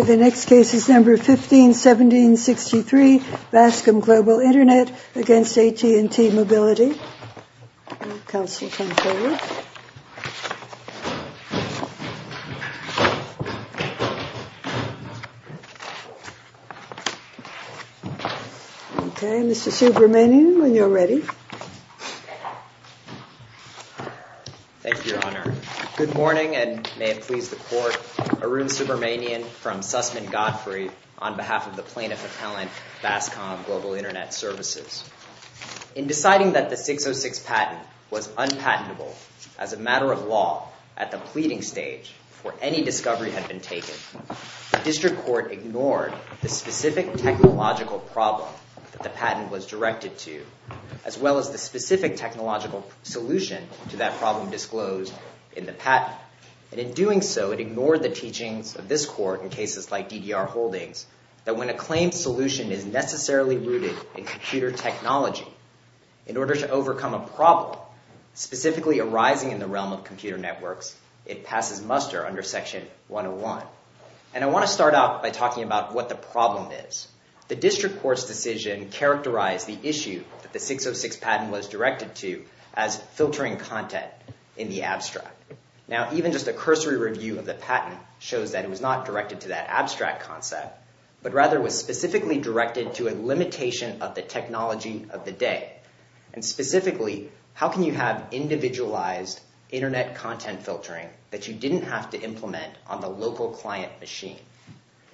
151763 BASCOM Global Internet v. AT&T Mobility In deciding that the 606 patent was unpatentable as a matter of law at the pleading stage before any discovery had been taken, the District Court ignored the specific technological problem that the patent was directed to, as well as the specific technological solution to that problem disclosed in the patent. And in doing so, it ignored the teachings of this court in cases like DDR Holdings that when a claim solution is necessarily rooted in computer technology, in order to overcome a problem specifically arising in the realm of computer networks, it passes muster under Section 101. And I want to start out by talking about what the problem is. The District Court's decision characterized the issue that the 606 patent was directed to as filtering content in the abstract. Now, even just a cursory review of the patent shows that it was not directed to that abstract concept, but rather was specifically directed to a limitation of the technology of the day. And specifically, how can you have individualized Internet content filtering that you didn't have to implement on the local client machine,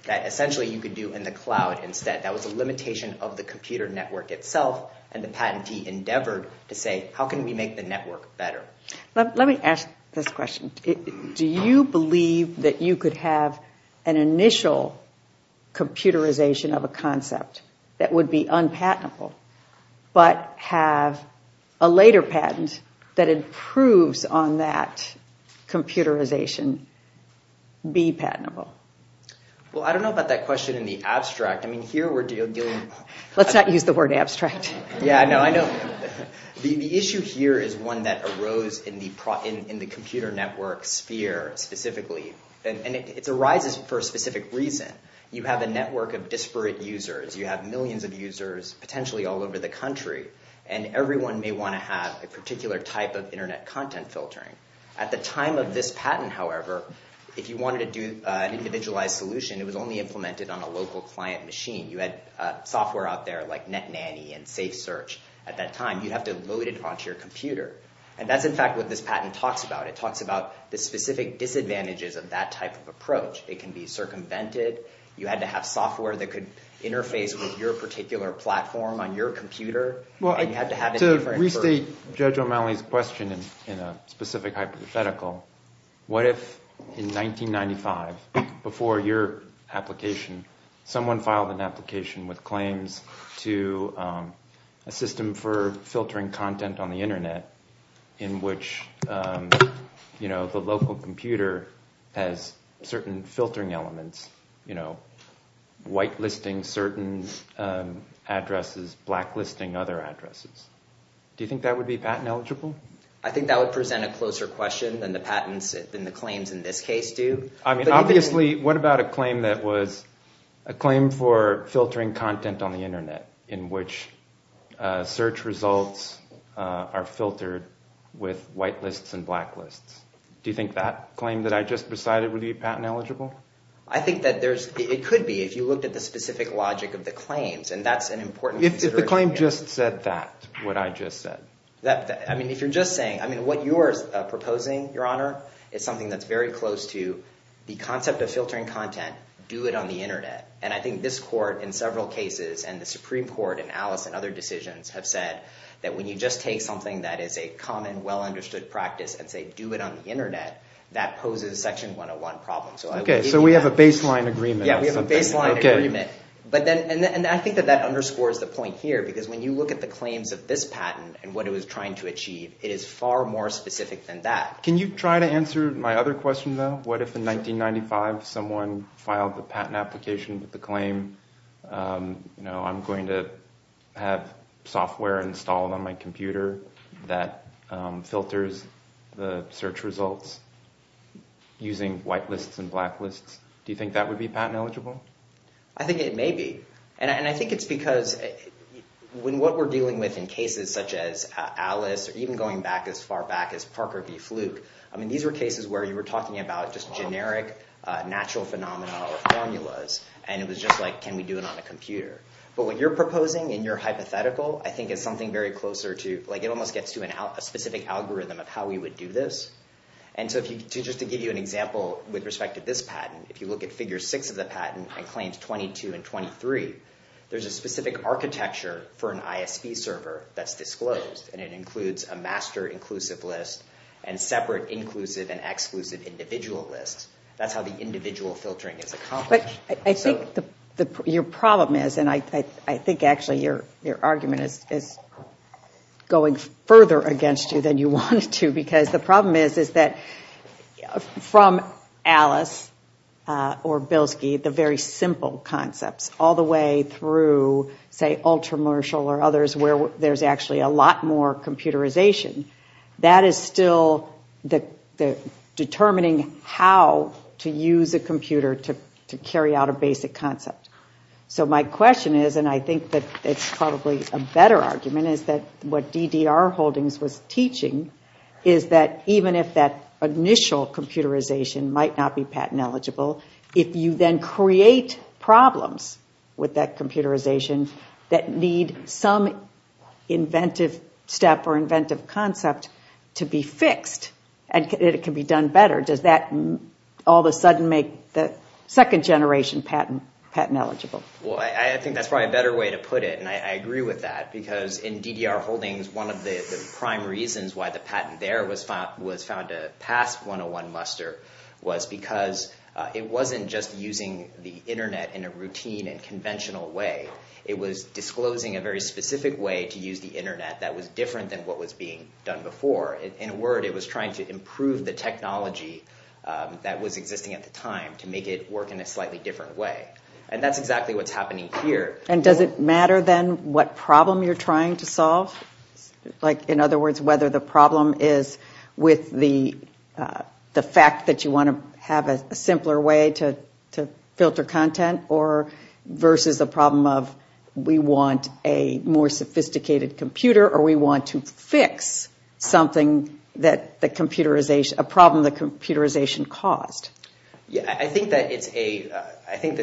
that essentially you could do in the cloud instead? That was a limitation of the computer network itself, and the patentee endeavored to say, how can we make the network better? Let me ask this question. Do you believe that you could have an initial computerization of a concept that would be unpatentable, but have a later patent that improves on that computerization be patentable? Well, I don't know about that question in the abstract. I mean, here we're dealing... Let's not use the word abstract. Yeah, no, I know. The issue here is one that arose in the computer network sphere specifically, and it arises for a specific reason. You have a network of disparate users. You have millions of users, potentially all over the country, and everyone may want to have a particular type of Internet content filtering. At the time of this patent, however, if you wanted to do an individualized solution, it was only implemented on a local client machine. You had software out there like NetNanny and SafeSearch at that time. You'd have to load it onto your computer. And that's, in fact, what this patent talks about. It talks about the specific disadvantages of that type of approach. It can be circumvented. You had to have software that could interface with your particular platform on your computer. To restate Judge O'Malley's question in a specific hypothetical, what if in 1995, before your application, someone filed an application with claims to a system for filtering content on the Internet in which the local computer has certain filtering elements, whitelisting certain addresses, blacklisting other addresses? Do you think that would be patent eligible? I think that would present a closer question than the patents and the claims in this case do. Obviously, what about a claim that was a claim for filtering content on the Internet in which search results are filtered with whitelists and blacklists? Do you think that claim that I just presided would be patent eligible? I think that it could be if you looked at the specific logic of the claims, and that's an important consideration. If the claim just said that, what I just said. I mean, if you're just saying. I mean, what you're proposing, Your Honor, is something that's very close to the concept of filtering content, do it on the Internet. And I think this court in several cases and the Supreme Court and Alice and other decisions have said that when you just take something that is a common, well-understood practice and say do it on the Internet, that poses Section 101 problems. Okay, so we have a baseline agreement. Yeah, we have a baseline agreement. And I think that that underscores the point here, because when you look at the claims of this patent and what it was trying to achieve, it is far more specific than that. Can you try to answer my other question, though? What if in 1995 someone filed the patent application with the claim, I'm going to have software installed on my computer that filters the search results using white lists and black lists? Do you think that would be patent eligible? I think it may be. And I think it's because when what we're dealing with in cases such as Alice or even going back as far back as Parker v. Fluke, I mean, these were cases where you were talking about just generic natural phenomena or formulas, and it was just like, can we do it on a computer? But what you're proposing in your hypothetical, I think, is something very closer to, like it almost gets to a specific algorithm of how we would do this. And so just to give you an example with respect to this patent, if you look at Figure 6 of the patent and Claims 22 and 23, there's a specific architecture for an ISV server that's disclosed, and it includes a master inclusive list and separate inclusive and exclusive individual lists. That's how the individual filtering is accomplished. But I think your problem is, and I think actually your argument is going further against you than you wanted to because the problem is that from Alice or Bilski, the very simple concepts all the way through, say, Ultramershal or others where there's actually a lot more computerization, that is still determining how to use a computer to carry out a basic concept. So my question is, and I think that it's probably a better argument, is that what DDR Holdings was teaching is that even if that initial computerization might not be patent eligible, if you then create problems with that computerization that need some inventive step or inventive concept to be fixed and it can be done better, does that all of a sudden make the second generation patent eligible? Well, I think that's probably a better way to put it, and I agree with that, because in DDR Holdings, one of the prime reasons why the patent there was found to pass 101 muster was because it wasn't just using the Internet in a routine and conventional way. It was disclosing a very specific way to use the Internet that was different than what was being done before. In a word, it was trying to improve the technology that was existing at the time to make it work in a slightly different way. And that's exactly what's happening here. And does it matter, then, what problem you're trying to solve? Like, in other words, whether the problem is with the fact that you want to have a simpler way to filter content versus a problem of we want a more sophisticated computer or we want to fix a problem that computerization caused. I think that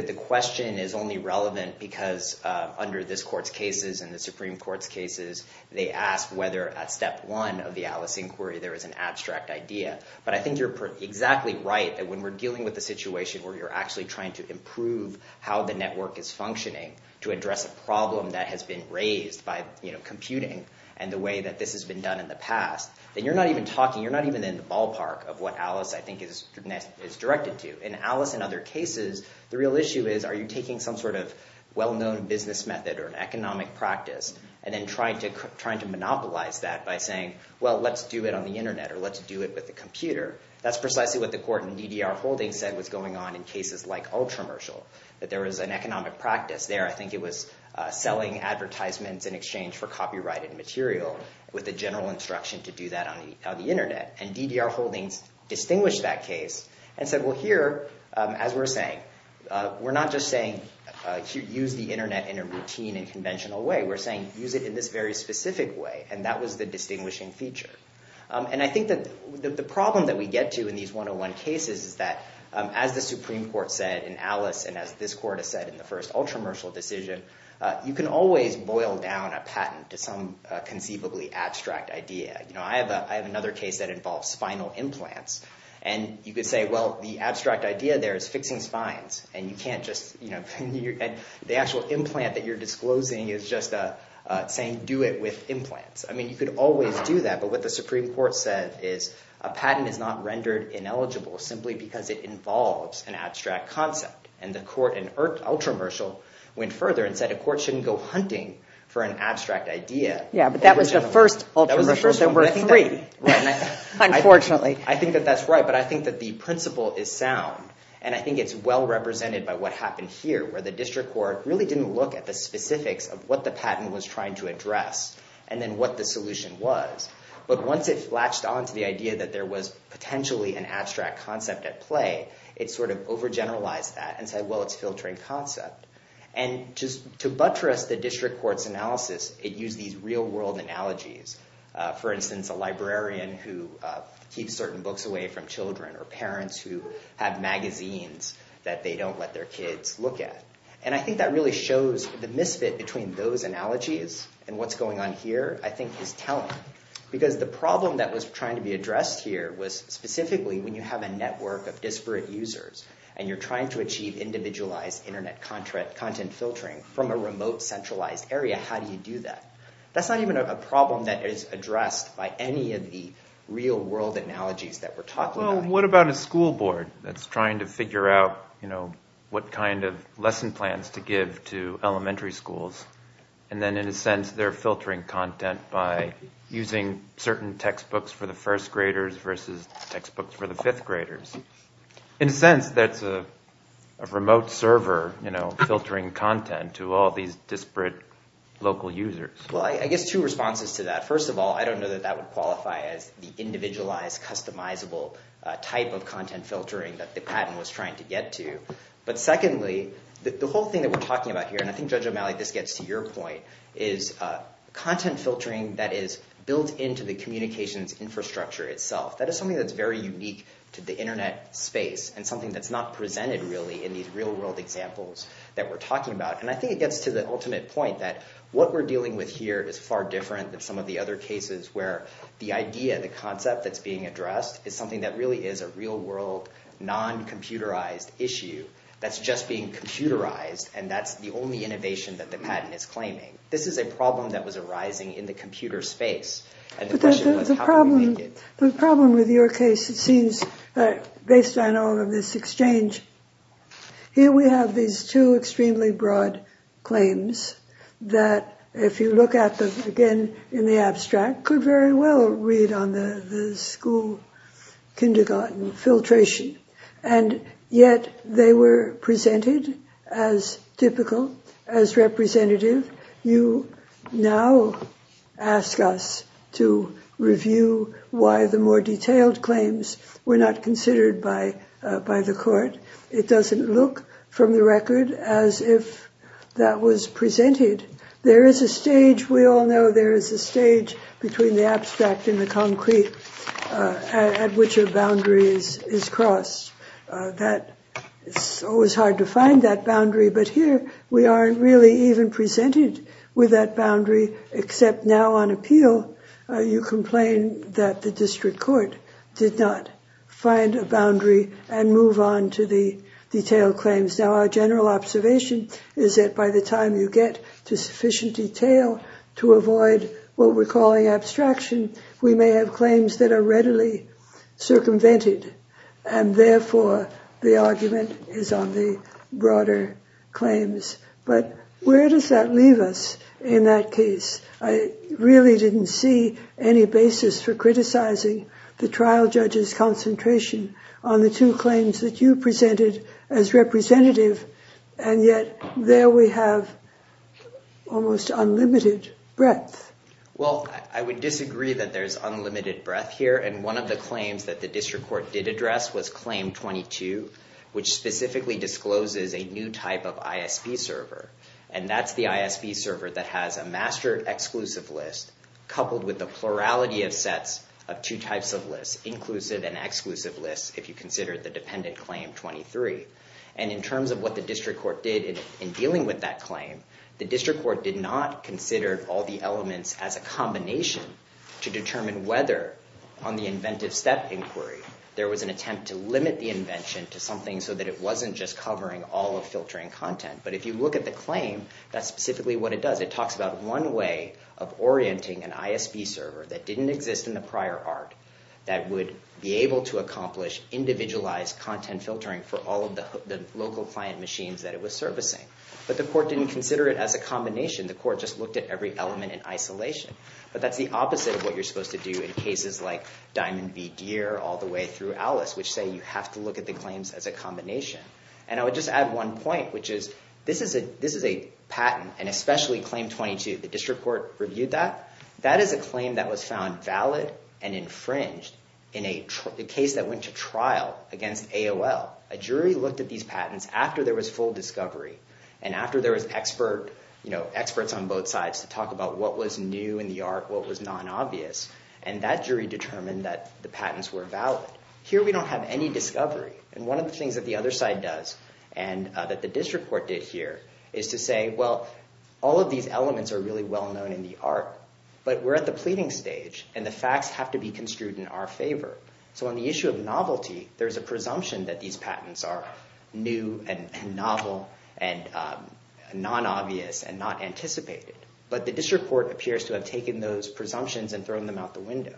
the question is only relevant because under this court's cases and the Supreme Court's cases, they ask whether at step one of the Alice inquiry there is an abstract idea. But I think you're exactly right that when we're dealing with a situation where you're actually trying to improve how the network is functioning to address a problem that has been raised by computing and the way that this has been done in the past, then you're not even talking, you're not even in the case that it's directed to. In Alice and other cases, the real issue is are you taking some sort of well-known business method or an economic practice and then trying to monopolize that by saying, well, let's do it on the internet or let's do it with the computer. That's precisely what the court in DDR Holdings said was going on in cases like Ultramershal, that there was an economic practice there. I think it was selling advertisements in exchange for copyrighted material with the general instruction to do that on the internet. And DDR Holdings distinguished that case and said, well, here, as we're saying, we're not just saying use the internet in a routine and conventional way. We're saying use it in this very specific way. And that was the distinguishing feature. And I think that the problem that we get to in these 101 cases is that, as the Supreme Court said in Alice and as this court has said in the first Ultramershal decision, you can always boil down a patent to some conceivably abstract idea. I have another case that involves spinal implants. And you could say, well, the abstract idea there is fixing spines. And you can't just – the actual implant that you're disclosing is just saying do it with implants. I mean, you could always do that. But what the Supreme Court said is a patent is not rendered ineligible simply because it involves an abstract concept. And the court in Ultramershal went further and said a court shouldn't go hunting for an abstract idea. Yeah, but that was the first Ultramershal. There were three, unfortunately. I think that that's right. But I think that the principle is sound. And I think it's well represented by what happened here, where the district court really didn't look at the specifics of what the patent was trying to address and then what the solution was. But once it latched on to the idea that there was potentially an abstract concept at play, it sort of overgeneralized that and said, well, it's a filtering concept. And just to buttress the district court's analysis, it used these real-world analogies. For instance, a librarian who keeps certain books away from children or parents who have magazines that they don't let their kids look at. And I think that really shows the misfit between those analogies and what's going on here, I think, is telling. Because the problem that was trying to be addressed here was specifically individualized Internet content filtering from a remote centralized area. How do you do that? That's not even a problem that is addressed by any of the real-world analogies that we're talking about. Well, what about a school board that's trying to figure out what kind of lesson plans to give to elementary schools? And then, in a sense, they're filtering content by using certain textbooks for the first graders versus textbooks for the fifth graders. In a sense, that's a remote server filtering content to all these disparate local users. Well, I guess two responses to that. First of all, I don't know that that would qualify as the individualized customizable type of content filtering that the patent was trying to get to. But secondly, the whole thing that we're talking about here, and I think, Judge O'Malley, this gets to your point, is content filtering that is built into the communications infrastructure itself. That is something that's very unique to the Internet space, and something that's not presented really in these real-world examples that we're talking about. And I think it gets to the ultimate point that what we're dealing with here is far different than some of the other cases where the idea, the concept that's being addressed is something that really is a real-world, non-computerized issue that's just being computerized, and that's the only innovation that the patent is claiming. This is a problem that was arising in the computer space. But the problem with your case, it seems, based on all of this exchange, here we have these two extremely broad claims that, if you look at them again in the abstract, could very well read on the school-kindergarten filtration, and yet they were presented as typical, as representative. You now ask us to review why the more detailed claims were not considered by the court. It doesn't look, from the record, as if that was presented. There is a stage, we all know there is a stage, between the abstract and the concrete at which a boundary is crossed. It's always hard to find that boundary, but here we aren't really even presented with that boundary, except now on appeal, you complain that the district court did not find a boundary and move on to the detailed claims. Now, our general observation is that by the time you get to sufficient detail to avoid what we're calling abstraction, we may have claims that are readily circumvented, and therefore the argument is on the broader claims. But where does that leave us in that case? I really didn't see any basis for criticizing the trial judge's concentration on the two claims that you presented as representative, and yet there we have almost unlimited breadth. Well, I would disagree that there's unlimited breadth here, and one of the claims that the district court did address was claim 22, which specifically discloses a new type of ISB server, and that's the ISB server that has a master exclusive list coupled with the plurality of sets of two types of lists, inclusive and exclusive lists, if you consider the dependent claim 23. And in terms of what the district court did in dealing with that claim, the district court did not consider all the elements as a combination to determine whether on the inventive step inquiry there was an attempt to limit the invention to something so that it wasn't just covering all of filtering content. But if you look at the claim, that's specifically what it does. It talks about one way of orienting an ISB server that didn't exist in the prior art that would be able to accomplish individualized content filtering for all of the local client machines that it was servicing. But the court didn't consider it as a combination. The court just looked at every element in isolation. But that's the opposite of what you're supposed to do in cases like Diamond v. Deere all the way through Alice, which say you have to look at the claims as a combination. And I would just add one point, which is this is a patent, and especially claim 22, the district court reviewed that. That is a claim that was found valid and infringed in a case that went to trial against AOL. A jury looked at these patents after there was full discovery and after there was experts on both sides to talk about what was new in the art, what was non-obvious, and that jury determined that the patents were valid. Here we don't have any discovery. And one of the things that the other side does and that the district court did here is to say, well, all of these elements are really well-known in the art, but we're at the pleading stage, and the facts have to be construed in our favor. So on the issue of novelty, there's a presumption that these patents are new and novel and non-obvious and not anticipated. But the district court appears to have taken those presumptions and thrown them out the window.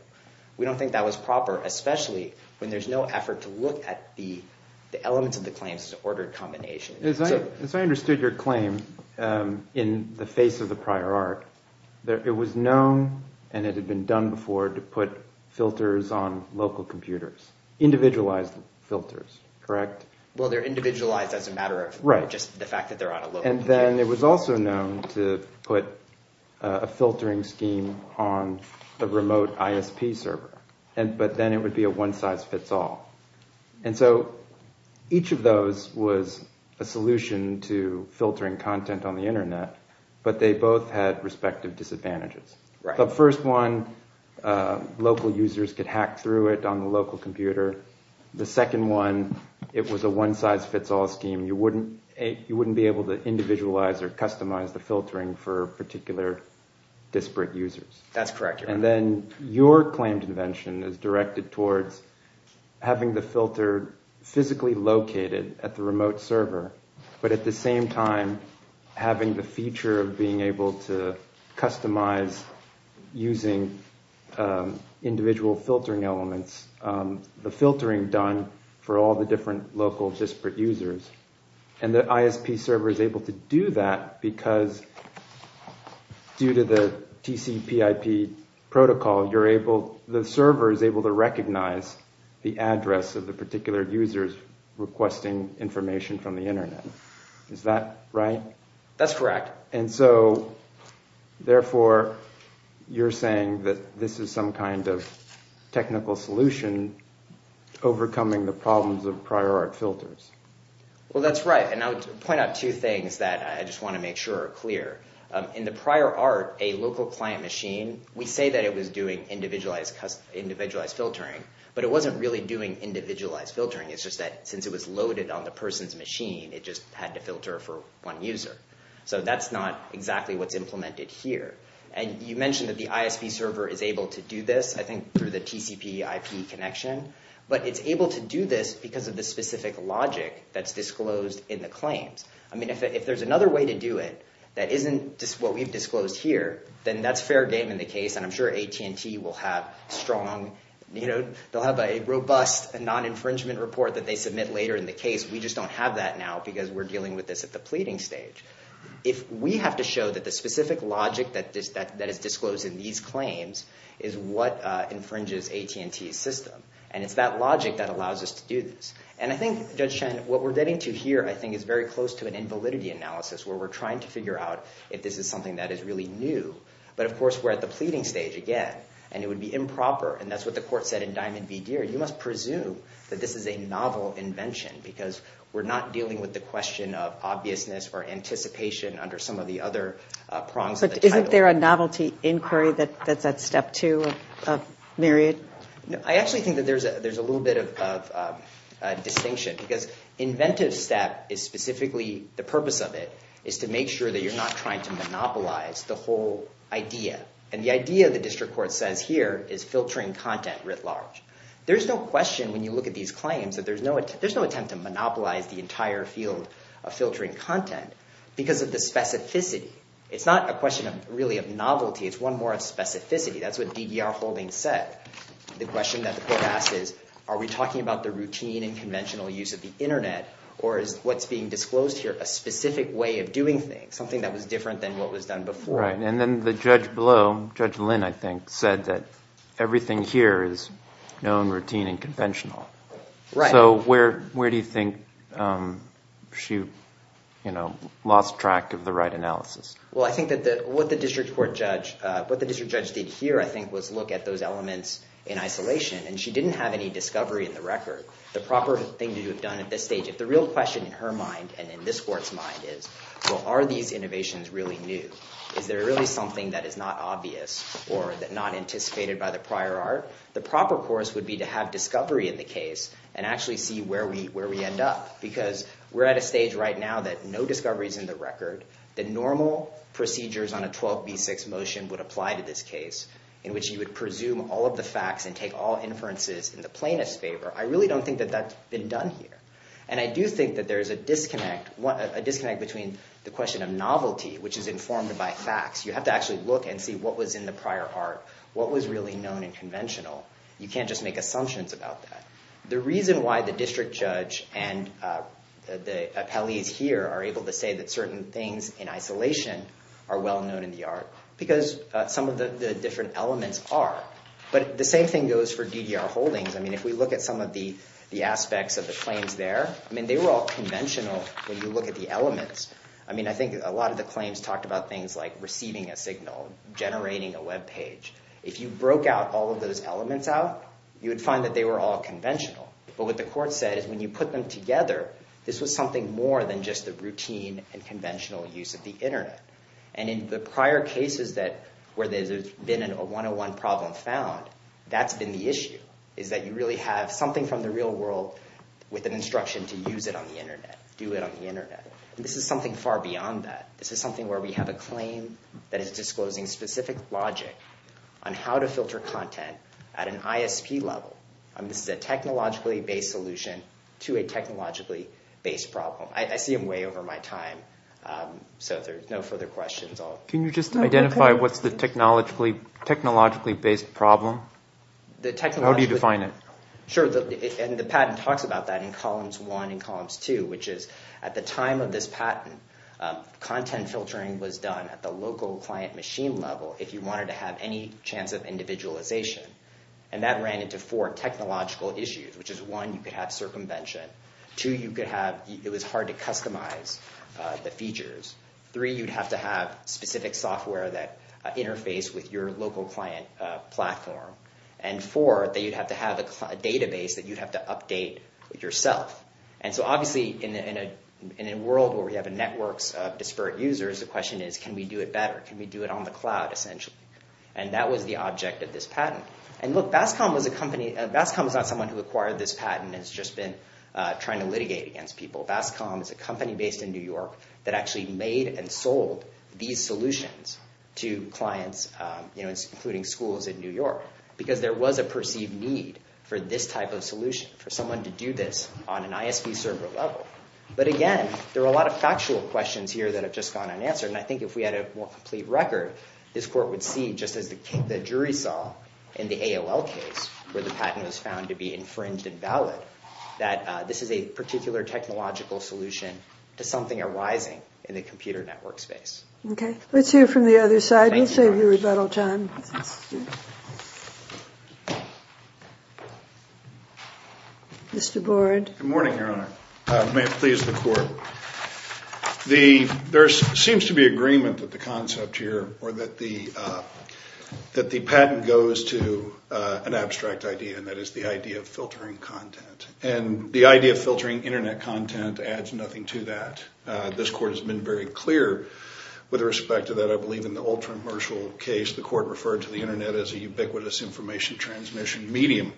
We don't think that was proper, especially when there's no effort to look at the elements of the claims as an ordered combination. As I understood your claim in the face of the prior art, it was known and it had been done before to put filters on local computers, individualized filters, correct? Well, they're individualized as a matter of just the fact that they're on a local computer. And then it was also known to put a filtering scheme on a remote ISP server, but then it would be a one-size-fits-all. And so each of those was a solution to filtering content on the Internet, but they both had respective disadvantages. The first one, local users could hack through it on the local computer. The second one, it was a one-size-fits-all scheme. You wouldn't be able to individualize or customize the filtering for particular disparate users. That's correct. And then your claim convention is directed towards having the filter physically located at the remote server, but at the same time having the feature of being able to customize using individual filtering elements the filtering done for all the different local disparate users. And the ISP server is able to do that because due to the TCPIP protocol, the server is able to recognize the address of the particular users requesting information from the Internet. Is that right? That's correct. And so, therefore, you're saying that this is some kind of technical solution overcoming the problems of prior art filters. Well, that's right. And I would point out two things that I just want to make sure are clear. In the prior art, a local client machine, we say that it was doing individualized filtering, but it wasn't really doing individualized filtering. It's just that since it was loaded on the person's machine, it just had to filter for one user. So that's not exactly what's implemented here. And you mentioned that the ISP server is able to do this, I think, through the TCPIP connection, but it's able to do this because of the specific logic that's disclosed in the claims. I mean, if there's another way to do it that isn't what we've disclosed here, then that's fair game in the case, and I'm sure AT&T will have strong, they'll have a robust non-infringement report that they submit later in the case. We just don't have that now because we're dealing with this at the pleading stage. If we have to show that the specific logic that is disclosed in these claims is what infringes AT&T's system, and it's that logic that allows us to do this. And I think, Judge Chen, what we're getting to here, I think, is very close to an invalidity analysis where we're trying to figure out if this is something that is really new. But, of course, we're at the pleading stage again, and it would be improper, and that's what the court said in Diamond v. Deere. You must presume that this is a novel invention or anticipation under some of the other prongs of the title. Isn't there a novelty inquiry that's at step two of myriad? I actually think that there's a little bit of distinction because inventive step is specifically, the purpose of it is to make sure that you're not trying to monopolize the whole idea. And the idea, the district court says here, is filtering content writ large. There's no question when you look at these claims that there's no attempt to monopolize the entire field of filtering content because of the specificity. It's not a question, really, of novelty. It's one more of specificity. That's what DDR Holdings said. The question that the court asked is, are we talking about the routine and conventional use of the Internet, or is what's being disclosed here a specific way of doing things, something that was different than what was done before? Right, and then the judge below, Judge Lynn, I think, said that everything here is known, routine, and conventional. Right. So where do you think she lost track of the right analysis? Well, I think that what the district court judge, what the district judge did here, I think, was look at those elements in isolation, and she didn't have any discovery in the record. The proper thing to have done at this stage, if the real question in her mind and in this court's mind is, well, are these innovations really new? Is there really something that is not obvious or not anticipated by the prior art? The proper course would be to have discovery in the case and actually see where we end up, because we're at a stage right now that no discovery is in the record. The normal procedures on a 12b6 motion would apply to this case, in which you would presume all of the facts and take all inferences in the plaintiff's favor. I really don't think that that's been done here. And I do think that there is a disconnect between the question of novelty, which is informed by facts. You have to actually look and see what was in the prior art, what was really known and conventional. You can't just make assumptions about that. The reason why the district judge and the appellees here are able to say that certain things in isolation are well known in the art, because some of the different elements are. But the same thing goes for DDR holdings. I mean, if we look at some of the aspects of the claims there, I mean, they were all conventional when you look at the elements. I mean, I think a lot of the claims talked about things like If you broke out all of those elements out, you would find that they were all conventional. But what the court said is when you put them together, this was something more than just the routine and conventional use of the Internet. And in the prior cases where there's been a 101 problem found, that's been the issue, is that you really have something from the real world with an instruction to use it on the Internet, do it on the Internet. And this is something far beyond that. This is something where we have a claim that is disclosing specific logic on how to filter content at an ISP level. This is a technologically-based solution to a technologically-based problem. I see them way over my time, so if there's no further questions, I'll... Can you just identify what's the technologically-based problem? How do you define it? Sure, and the patent talks about that in columns one and columns two, which is at the time of this patent, content filtering was done at the local client machine level if you wanted to have any chance of individualization. And that ran into four technological issues, which is one, you could have circumvention. Two, you could have... It was hard to customize the features. Three, you'd have to have specific software that interfaced with your local client platform. And four, that you'd have to have a database that you'd have to update yourself. And so, obviously, in a world where we have networks of disparate users, the question is, can we do it better? Can we do it on the cloud, essentially? And that was the object of this patent. And look, Bascom was a company... Bascom was not someone who acquired this patent and has just been trying to litigate against people. Bascom is a company based in New York that actually made and sold these solutions to clients, you know, including schools in New York, because there was a perceived need for this type of solution, for someone to do this on an ISV server level. But again, there are a lot of factual questions here that have just gone unanswered. And I think if we had a more complete record, this court would see, just as the jury saw in the AOL case, where the patent was found to be infringed and valid, that this is a particular technological solution to something arising in the computer network space. Okay. Let's hear from the other side. We'll save you a little time. Mr. Board. Good morning, Your Honor. May it please the court. There seems to be agreement that the concept here, or that the patent goes to an abstract idea, and that is the idea of filtering content. And the idea of filtering Internet content adds nothing to that. This court has been very clear with respect to that. I believe in the old commercial case, the court referred to the Internet as a ubiquitous information transmission medium.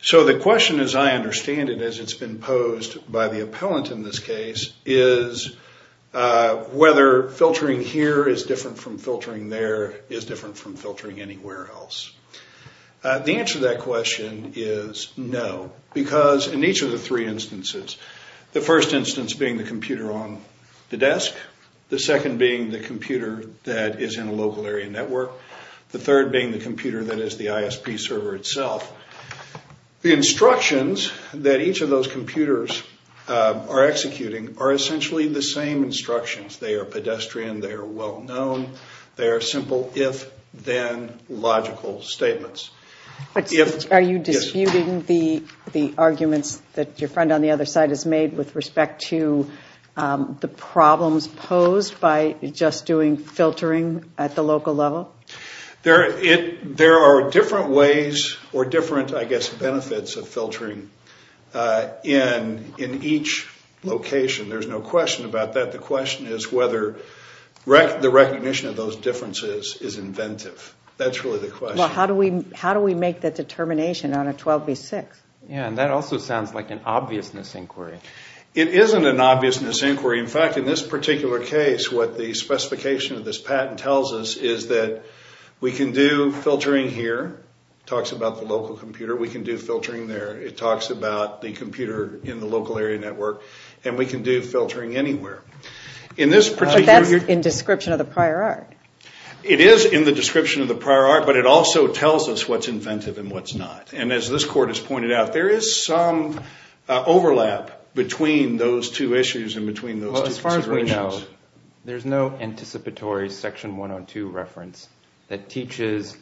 So the question, as I understand it, as it's been posed by the appellant in this case, is whether filtering here is different from filtering there, is different from filtering anywhere else. The answer to that question is no, because in each of the three instances, the first instance being the computer on the desk, the second being the computer that is in a local area network, the third being the computer that is the ISP server itself. The instructions that each of those computers are executing are essentially the same instructions. They are pedestrian, they are well-known, they are simple if-then logical statements. Are you disputing the arguments that your friend on the other side has made with respect to the problems posed by just doing filtering at the local level? There are different ways or different, I guess, benefits of filtering in each location. There's no question about that. The question is whether the recognition of those differences is inventive. That's really the question. Well, how do we make that determination on a 12 v. 6? Yeah, and that also sounds like an obviousness inquiry. It isn't an obviousness inquiry. In fact, in this particular case, what the specification of this patent tells us is that we can do filtering here. It talks about the local computer. We can do filtering there. It talks about the computer in the local area network, and we can do filtering anywhere. But that's in description of the prior art. It is in the description of the prior art, but it also tells us what's inventive and what's not. And as this court has pointed out, there is some overlap between those two issues and between those two considerations. Well, as far as we know, there's no anticipatory Section 102 reference that teaches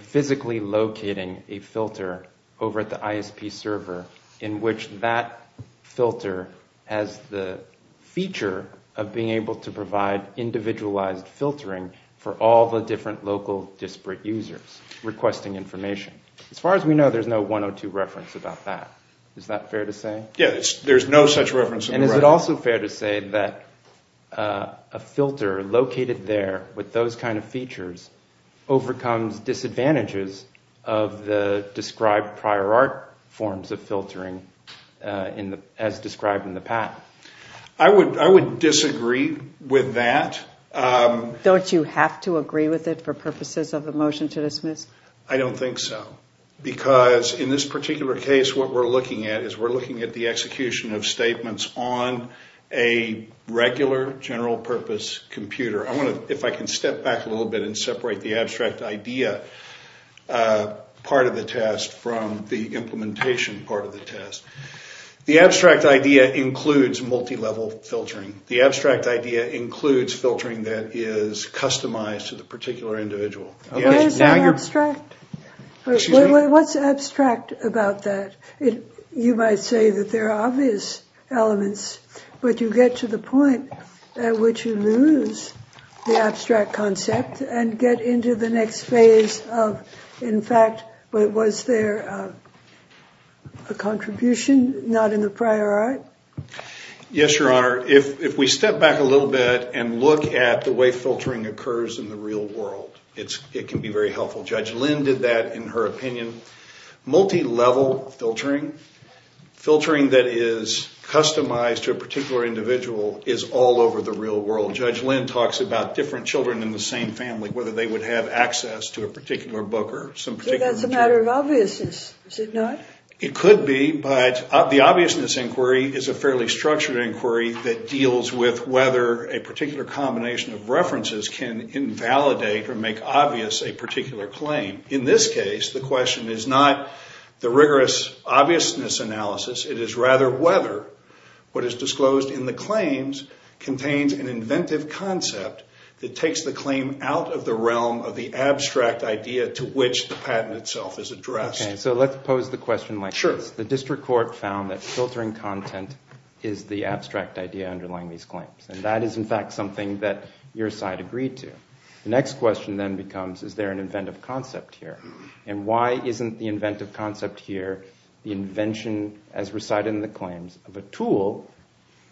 physically locating a filter over at the ISP server in which that filter has the feature of being able to provide individualized filtering for all the different local disparate users requesting information. As far as we know, there's no 102 reference about that. Is that fair to say? Yeah, there's no such reference. And is it also fair to say that a filter located there with those kind of features overcomes disadvantages of the described prior art forms of filtering as described in the patent? I would disagree with that. Don't you have to agree with it for purposes of a motion to dismiss? I don't think so, because in this particular case, what we're looking at is we're looking at the execution of statements on a regular general purpose computer. If I can step back a little bit and separate the abstract idea part of the test from the implementation part of the test. The abstract idea includes multilevel filtering. The abstract idea includes filtering that is customized to the particular individual. Where is that abstract? Excuse me? What's abstract about that? You might say that there are obvious elements, but you get to the point at which you lose the abstract concept and get into the next phase of, in fact, was there a contribution not in the prior art? Yes, Your Honor. If we step back a little bit and look at the way filtering occurs in the real world, it can be very helpful. Judge Lynn did that in her opinion. Multilevel filtering, filtering that is customized to a particular individual, is all over the real world. Judge Lynn talks about different children in the same family, whether they would have access to a particular book or some particular material. So that's a matter of obviousness, is it not? It could be, but the obviousness inquiry is a fairly structured inquiry that deals with whether a particular combination of references can invalidate or make obvious a particular claim. In this case, the question is not the rigorous obviousness analysis. It is rather whether what is disclosed in the claims contains an inventive concept that takes the claim out of the realm of the abstract idea to which the patent itself is addressed. Okay, so let's pose the question like this. The district court found that filtering content is the abstract idea underlying these claims, and that is in fact something that your side agreed to. The next question then becomes is there an inventive concept here, and why isn't the inventive concept here the invention, as recited in the claims, of a tool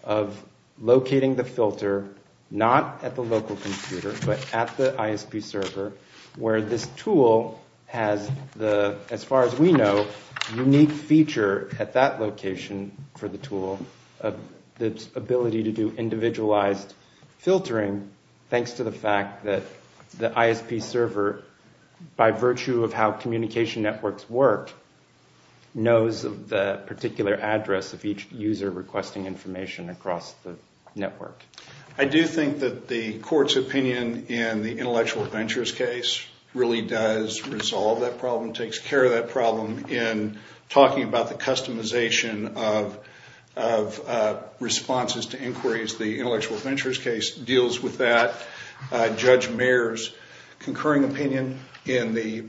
of locating the filter not at the local computer but at the ISP server where this tool has the, as far as we know, unique feature at that location for the tool of the ability to do individualized filtering thanks to the fact that the ISP server, by virtue of how communication networks work, knows the particular address of each user requesting information across the network. I do think that the court's opinion in the intellectual ventures case really does resolve that problem, takes care of that problem in talking about the customization of responses to inquiries. The intellectual ventures case deals with that. Judge Mayer's concurring opinion in the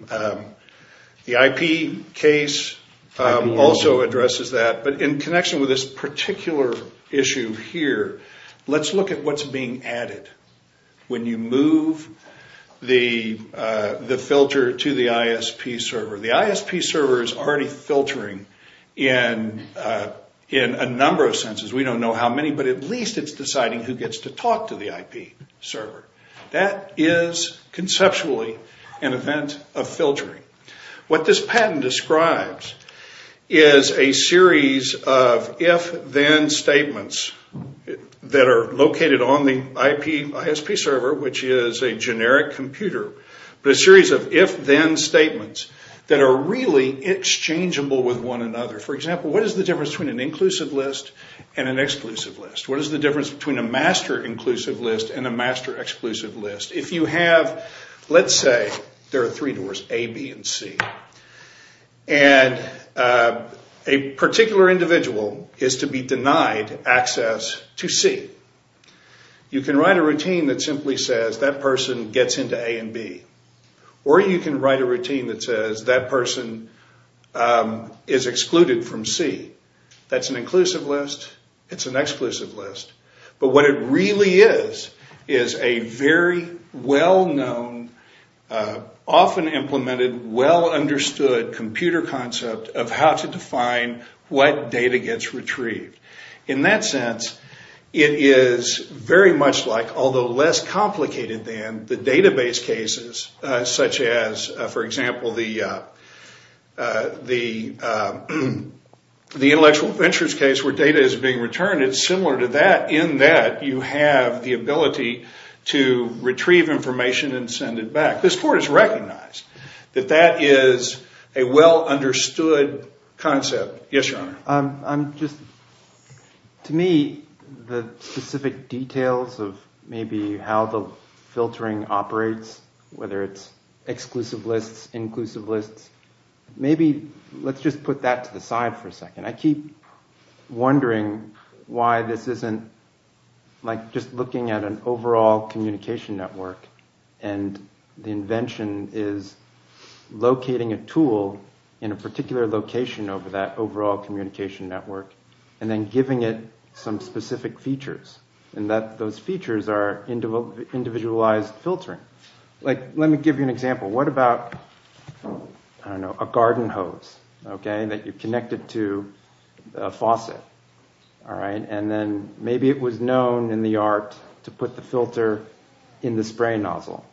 IP case also addresses that. But in connection with this particular issue here, let's look at what's being added. When you move the filter to the ISP server, the ISP server is already filtering in a number of senses. We don't know how many, but at least it's deciding who gets to talk to the IP server. That is conceptually an event of filtering. What this patent describes is a series of if-then statements that are located on the ISP server, which is a generic computer, but a series of if-then statements that are really exchangeable with one another. For example, what is the difference between an inclusive list and an exclusive list? What is the difference between a master inclusive list and a master exclusive list? Let's say there are three doors, A, B, and C. A particular individual is to be denied access to C. You can write a routine that simply says that person gets into A and B. Or you can write a routine that says that person is excluded from C. That's an inclusive list. It's an exclusive list. But what it really is is a very well-known, often implemented, well-understood computer concept of how to define what data gets retrieved. In that sense, it is very much like, although less complicated than, the database cases, such as, for example, the intellectual ventures case where data is being returned. It's similar to that in that you have the ability to retrieve information and send it back. This court has recognized that that is a well-understood concept. Yes, Your Honor. To me, the specific details of maybe how the filtering operates, whether it's exclusive lists, inclusive lists, maybe let's just put that to the side for a second. I keep wondering why this isn't just looking at an overall communication network and the invention is locating a tool in a particular location over that overall communication network and then giving it some specific features. Those features are individualized filtering. Let me give you an example. What about a garden hose that you connected to a faucet? Then maybe it was known in the art to put the filter in the spray nozzle.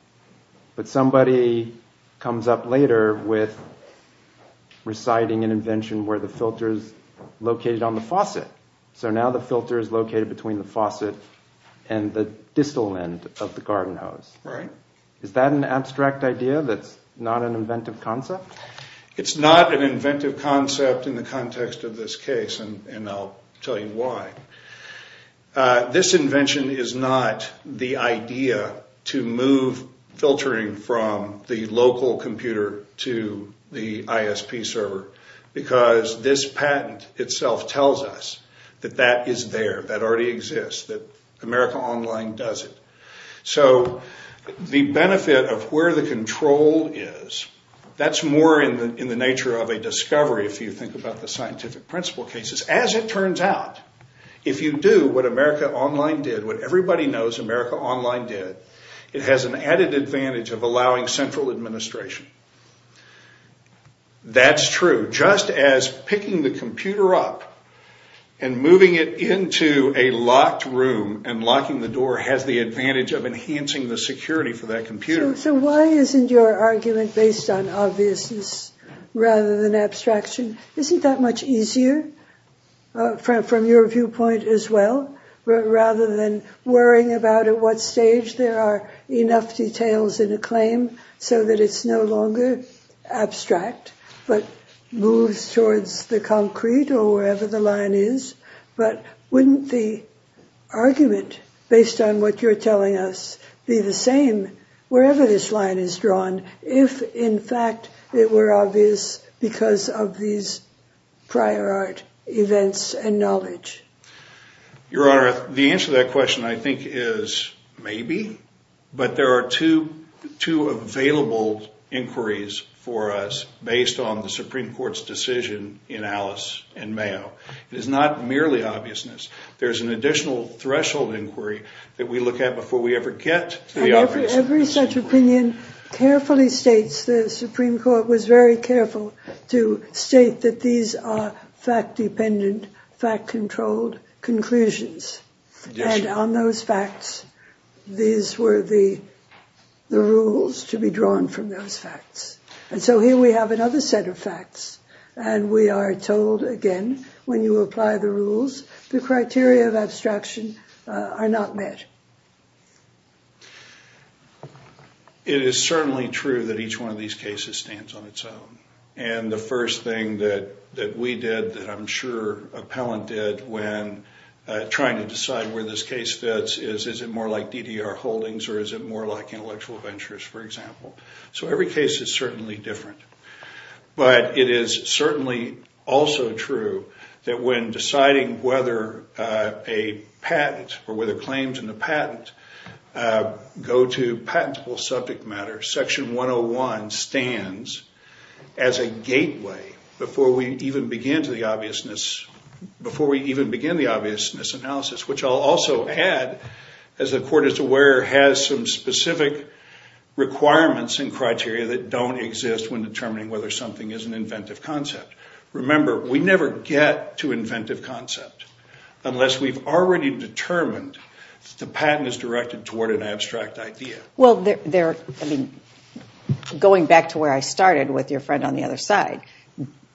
But somebody comes up later with reciting an invention where the filter is located on the faucet. So now the filter is located between the faucet and the distal end of the garden hose. Is that an abstract idea that's not an inventive concept? It's not an inventive concept in the context of this case, and I'll tell you why. This invention is not the idea to move filtering from the local computer to the ISP server because this patent itself tells us that that is there, that already exists, that America Online does it. So the benefit of where the control is, that's more in the nature of a discovery if you think about the scientific principle cases. As it turns out, if you do what America Online did, what everybody knows America Online did, it has an added advantage of allowing central administration. That's true. Just as picking the computer up and moving it into a locked room and locking the door has the advantage of enhancing the security for that computer. So why isn't your argument based on obviousness rather than abstraction? Isn't that much easier from your viewpoint as well? Rather than worrying about at what stage there are enough details in a claim so that it's no longer abstract but moves towards the concrete or wherever the line is. But wouldn't the argument based on what you're telling us be the same wherever this line is drawn if in fact it were obvious because of these prior art events and knowledge? Your Honor, the answer to that question I think is maybe, but there are two available inquiries for us based on the Supreme Court's decision in Alice and Mayo. It is not merely obviousness. There's an additional threshold inquiry that we look at before we ever get to the obviousness. Every such opinion carefully states, the Supreme Court was very careful to state that these are fact-dependent, fact-controlled conclusions. And on those facts, these were the rules to be drawn from those facts. And so here we have another set of facts. And we are told, again, when you apply the rules, the criteria of abstraction are not met. It is certainly true that each one of these cases stands on its own. And the first thing that we did, that I'm sure appellant did, when trying to decide where this case fits is, is it more like DDR holdings or is it more like intellectual ventures, for example? So every case is certainly different. But it is certainly also true that when deciding whether a patent or whether claims in the patent go to patentable subject matter, Section 101 stands as a gateway before we even begin to the obviousness, before we even begin the obviousness analysis, which I'll also add, as the Court is aware, has some specific requirements and criteria that don't exist when determining whether something is an inventive concept. Remember, we never get to inventive concept unless we've already determined that the patent is directed toward an abstract idea. Well, going back to where I started with your friend on the other side,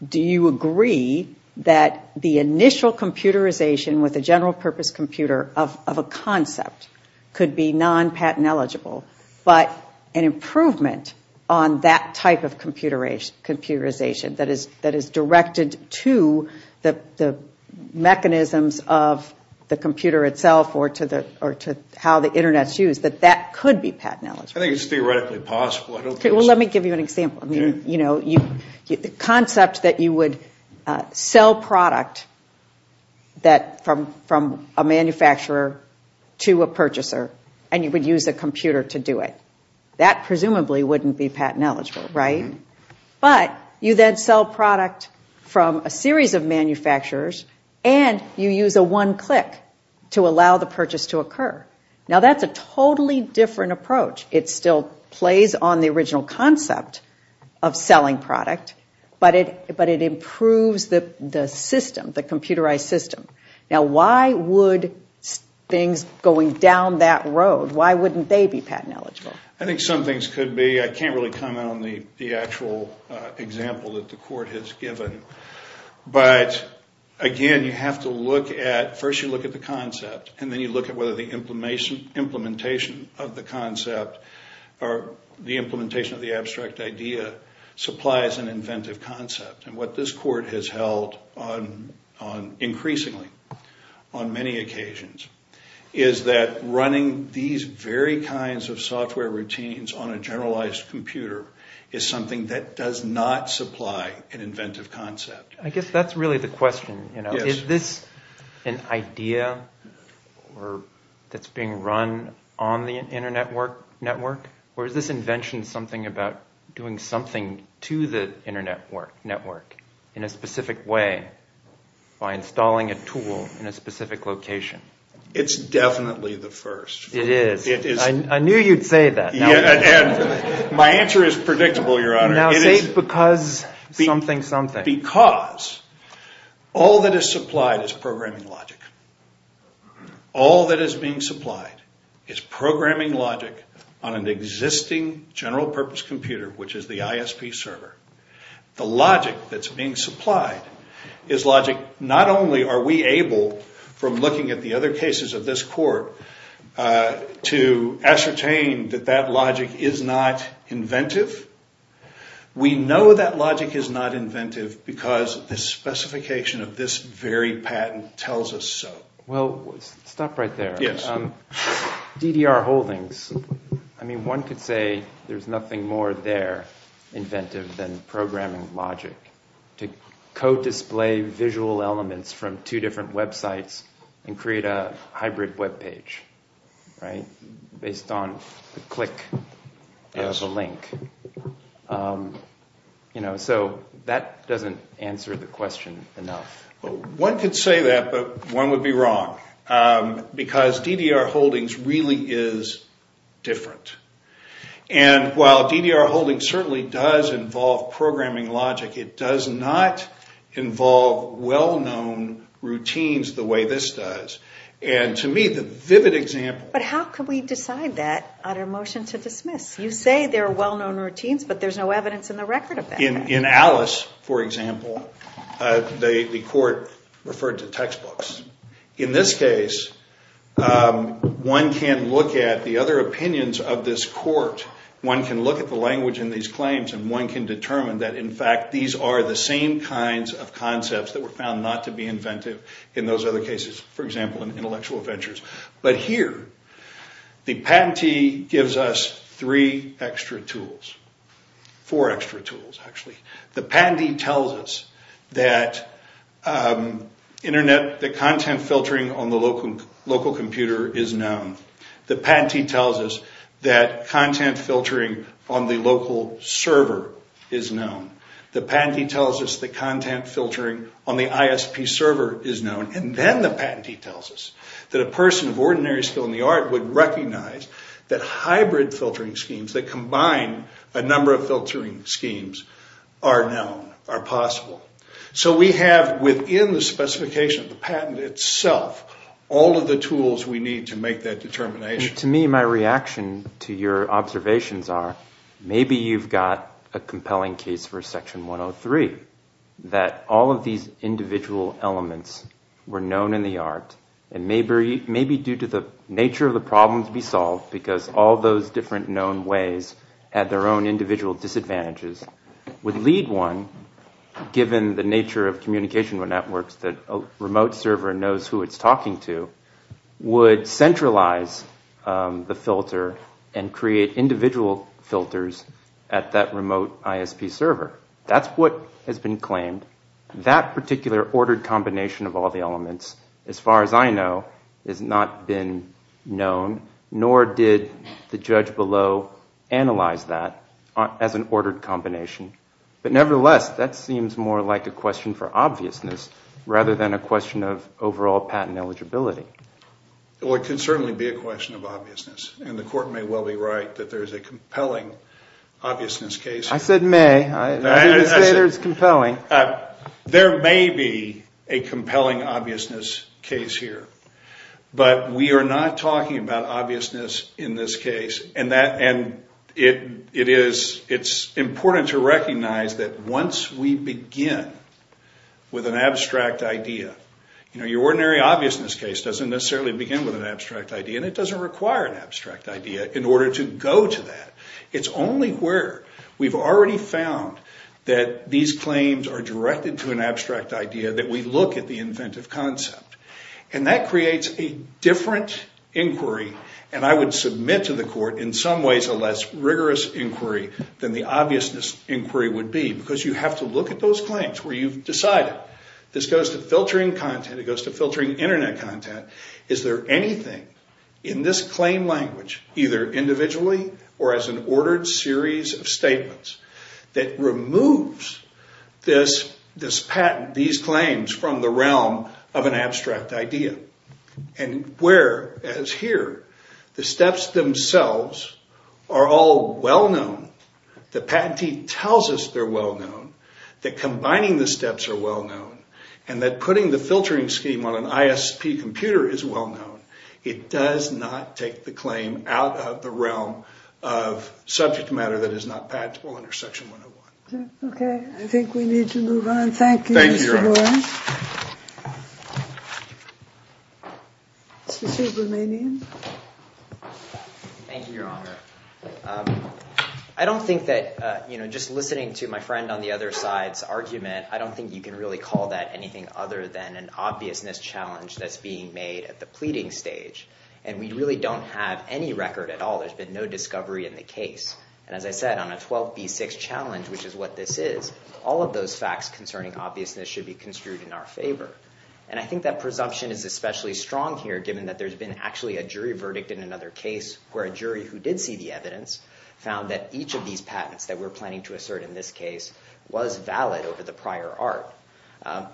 do you agree that the initial computerization with a general purpose computer of a concept could be non-patent eligible, but an improvement on that type of computerization that is directed to the mechanisms of the computer itself or to how the Internet is used, that that could be patent eligible? I think it's theoretically possible. Well, let me give you an example. The concept that you would sell product from a manufacturer to a purchaser and you would use a computer to do it. That presumably wouldn't be patent eligible, right? But you then sell product from a series of manufacturers and you use a one-click to allow the purchase to occur. Now, that's a totally different approach. It still plays on the original concept of selling product, but it improves the system, the computerized system. Now, why would things going down that road, why wouldn't they be patent eligible? I think some things could be. I can't really comment on the actual example that the court has given. But, again, you have to look at, first you look at the concept and then you look at whether the implementation of the concept or the implementation of the abstract idea supplies an inventive concept. And what this court has held increasingly on many occasions is that running these very kinds of software routines on a generalized computer is something that does not supply an inventive concept. I guess that's really the question. Is this an idea that's being run on the Internet network? Or is this invention something about doing something to the Internet network in a specific way by installing a tool in a specific location? It's definitely the first. It is. I knew you'd say that. My answer is predictable, Your Honor. Now, say it's because something something. Say it's because all that is supplied is programming logic. All that is being supplied is programming logic on an existing general-purpose computer, which is the ISP server. The logic that's being supplied is logic not only are we able, from looking at the other cases of this court, to ascertain that that logic is not inventive. We know that logic is not inventive because the specification of this very patent tells us so. Well, stop right there. Yes. DDR Holdings. I mean, one could say there's nothing more there, inventive, than programming logic to co-display visual elements from two different websites and create a hybrid web page, right, based on the click of a link. So that doesn't answer the question enough. One could say that, but one would be wrong, because DDR Holdings really is different. And while DDR Holdings certainly does involve programming logic, it does not involve well-known routines the way this does. And to me, the vivid example But how could we decide that on a motion to dismiss? You say there are well-known routines, but there's no evidence in the record of that. In Alice, for example, the court referred to textbooks. In this case, one can look at the other opinions of this court. One can look at the language in these claims, and one can determine that, in fact, these are the same kinds of concepts that were found not to be inventive in those other cases, for example, in Intellectual Adventures. But here, the patentee gives us three extra tools. Four extra tools, actually. The patentee tells us that content filtering on the local computer is known. The patentee tells us that content filtering on the local server is known. The patentee tells us that content filtering on the ISP server is known. And then the patentee tells us that a person of ordinary skill in the art would recognize that hybrid filtering schemes that combine a number of filtering schemes are known, are possible. So we have within the specification of the patent itself all of the tools we need to make that determination. To me, my reaction to your observations are maybe you've got a compelling case for Section 103, that all of these individual elements were known in the art, and maybe due to the nature of the problem to be solved, because all those different known ways had their own individual disadvantages, would lead one, given the nature of communication networks that a remote server knows who it's talking to, would centralize the filter and create individual filters at that remote ISP server. That's what has been claimed. That particular ordered combination of all the elements, as far as I know, has not been known, nor did the judge below analyze that as an ordered combination. But nevertheless, that seems more like a question for obviousness rather than a question of overall patent eligibility. Well, it could certainly be a question of obviousness. And the Court may well be right that there's a compelling obviousness case. I said may. I didn't say there's compelling. There may be a compelling obviousness case here. But we are not talking about obviousness in this case. And it's important to recognize that once we begin with an abstract idea, your ordinary obviousness case doesn't necessarily begin with an abstract idea, and it doesn't require an abstract idea in order to go to that. It's only where we've already found that these claims are directed to an abstract idea that we look at the inventive concept. And that creates a different inquiry, and I would submit to the Court in some ways a less rigorous inquiry than the obviousness inquiry would be, because you have to look at those claims where you've decided. This goes to filtering content. It goes to filtering Internet content. Is there anything in this claim language, either individually or as an ordered series of statements, that removes this patent, these claims, from the realm of an abstract idea? And where, as here, the steps themselves are all well-known. The patentee tells us they're well-known, that combining the steps are well-known, and that putting the filtering scheme on an ISP computer is well-known. It does not take the claim out of the realm of subject matter that is not patentable under Section 101. Okay. I think we need to move on. Thank you, Mr. Boyle. Thank you, Your Honor. Mr. Subramanian. Thank you, Your Honor. I don't think that, you know, just listening to my friend on the other side's argument, I don't think you can really call that anything other than an obviousness challenge that's being made at the pleading stage. And we really don't have any record at all. There's been no discovery in the case. And as I said, on a 12B6 challenge, which is what this is, all of those facts concerning obviousness should be construed in our favor. And I think that presumption is especially strong here, given that there's been actually a jury verdict in another case, where a jury who did see the evidence found that each of these patents that we're planning to assert in this case was valid over the prior art.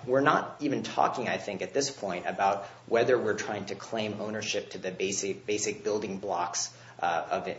We're not even talking, I think, at this point, about whether we're trying to claim ownership to the basic building blocks of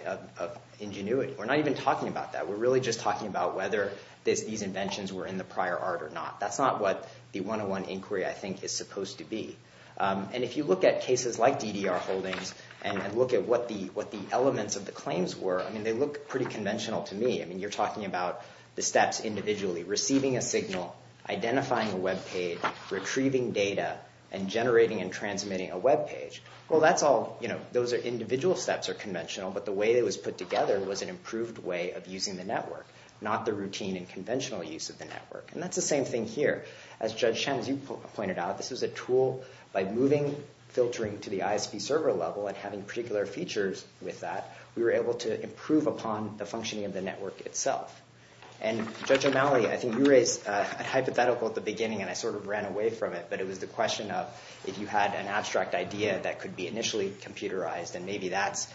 ingenuity. We're not even talking about that. We're really just talking about whether these inventions were in the prior art or not. That's not what the 101 inquiry, I think, is supposed to be. And if you look at cases like DDR Holdings and look at what the elements of the claims were, I mean, they look pretty conventional to me. I mean, you're talking about the steps individually, receiving a signal, identifying a web page, retrieving data, and generating and transmitting a web page. Well, that's all, you know, those are individual steps or conventional, but the way it was put together was an improved way of using the network, not the routine and conventional use of the network. And that's the same thing here. As Judge Shen, as you pointed out, this is a tool by moving filtering to the ISP server level and having particular features with that, we were able to improve upon the functioning of the network itself. And Judge O'Malley, I think you raised a hypothetical at the beginning and I sort of ran away from it, but it was the question of if you had an abstract idea that could be initially computerized and maybe that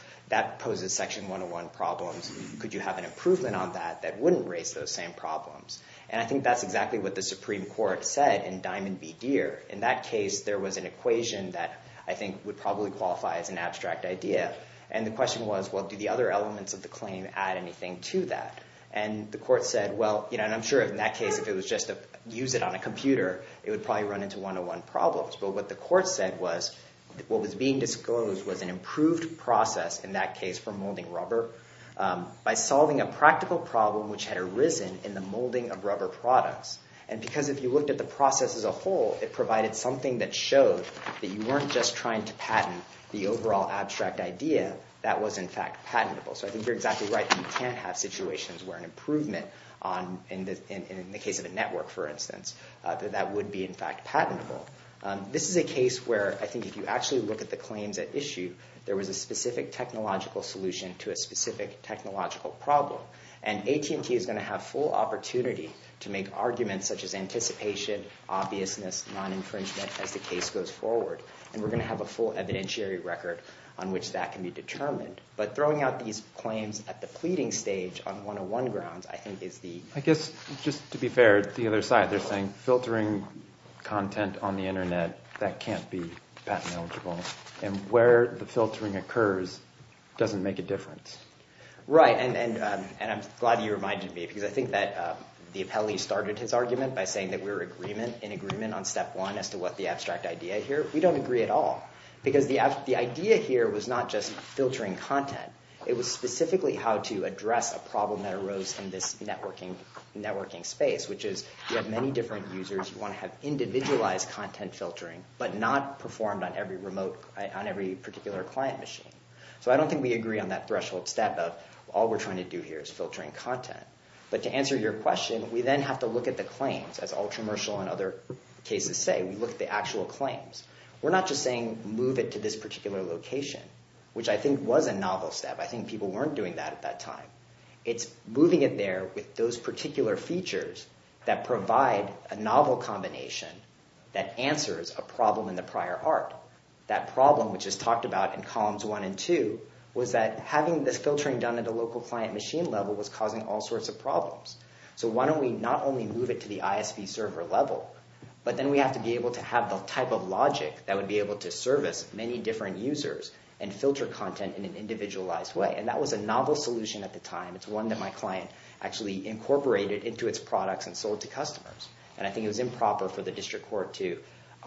poses Section 101 problems, could you have an improvement on that that wouldn't raise those same problems? And I think that's exactly what the Supreme Court said in Diamond v. Deere. In that case, there was an equation that I think would probably qualify as an abstract idea. And the question was, well, do the other elements of the claim add anything to that? And the court said, well, you know, and I'm sure in that case if it was just to use it on a computer, it would probably run into 101 problems. But what the court said was what was being disclosed was an improved process, in that case for molding rubber, by solving a practical problem which had arisen in the molding of rubber products. And because if you looked at the process as a whole, it provided something that showed that you weren't just trying to patent the overall abstract idea, that was in fact patentable. So I think you're exactly right that you can have situations where an improvement, in the case of a network for instance, that that would be in fact patentable. This is a case where I think if you actually look at the claims at issue, there was a specific technological solution to a specific technological problem. And AT&T is going to have full opportunity to make arguments such as anticipation, obviousness, non-infringement as the case goes forward. And we're going to have a full evidentiary record on which that can be determined. But throwing out these claims at the pleading stage on 101 grounds, I think is the... I guess just to be fair, the other side, they're saying filtering content on the Internet, that can't be patent eligible. And where the filtering occurs doesn't make a difference. Right, and I'm glad you reminded me because I think that the appellee started his argument by saying that we were in agreement on step one as to what the abstract idea here. We don't agree at all because the idea here was not just filtering content. It was specifically how to address a problem that arose in this networking space, which is you have many different users. You want to have individualized content filtering, but not performed on every particular client machine. So I don't think we agree on that threshold step of all we're trying to do here is filtering content. But to answer your question, we then have to look at the claims, as Ultramershal and other cases say. We look at the actual claims. We're not just saying move it to this particular location, which I think was a novel step. I think people weren't doing that at that time. It's moving it there with those particular features that provide a novel combination that answers a problem in the prior art. That problem, which is talked about in columns one and two, was that having this filtering done at a local client machine level was causing all sorts of problems. So why don't we not only move it to the ISV server level, but then we have to be able to have the type of logic that would be able to service many different users and filter content in an individualized way. And that was a novel solution at the time. It's one that my client actually incorporated into its products and sold to customers. And I think it was improper for the district court to,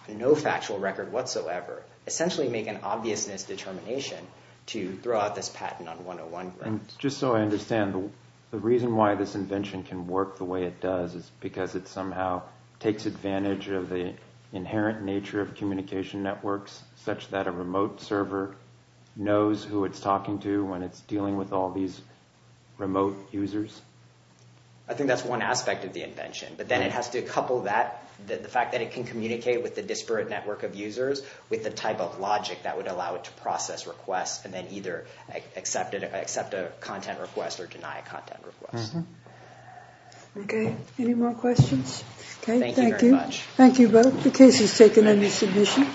on no factual record whatsoever, essentially make an obviousness determination to throw out this patent on 101. Just so I understand, the reason why this invention can work the way it does is because it somehow takes advantage of the inherent nature of communication networks such that a remote server knows who it's talking to when it's dealing with all these remote users? I think that's one aspect of the invention. But then it has to couple that, the fact that it can communicate with the disparate network of users, with the type of logic that would allow it to process requests and then either accept a content request or deny a content request. Okay. Any more questions? Thank you very much. Thank you both. The case is taken under submission.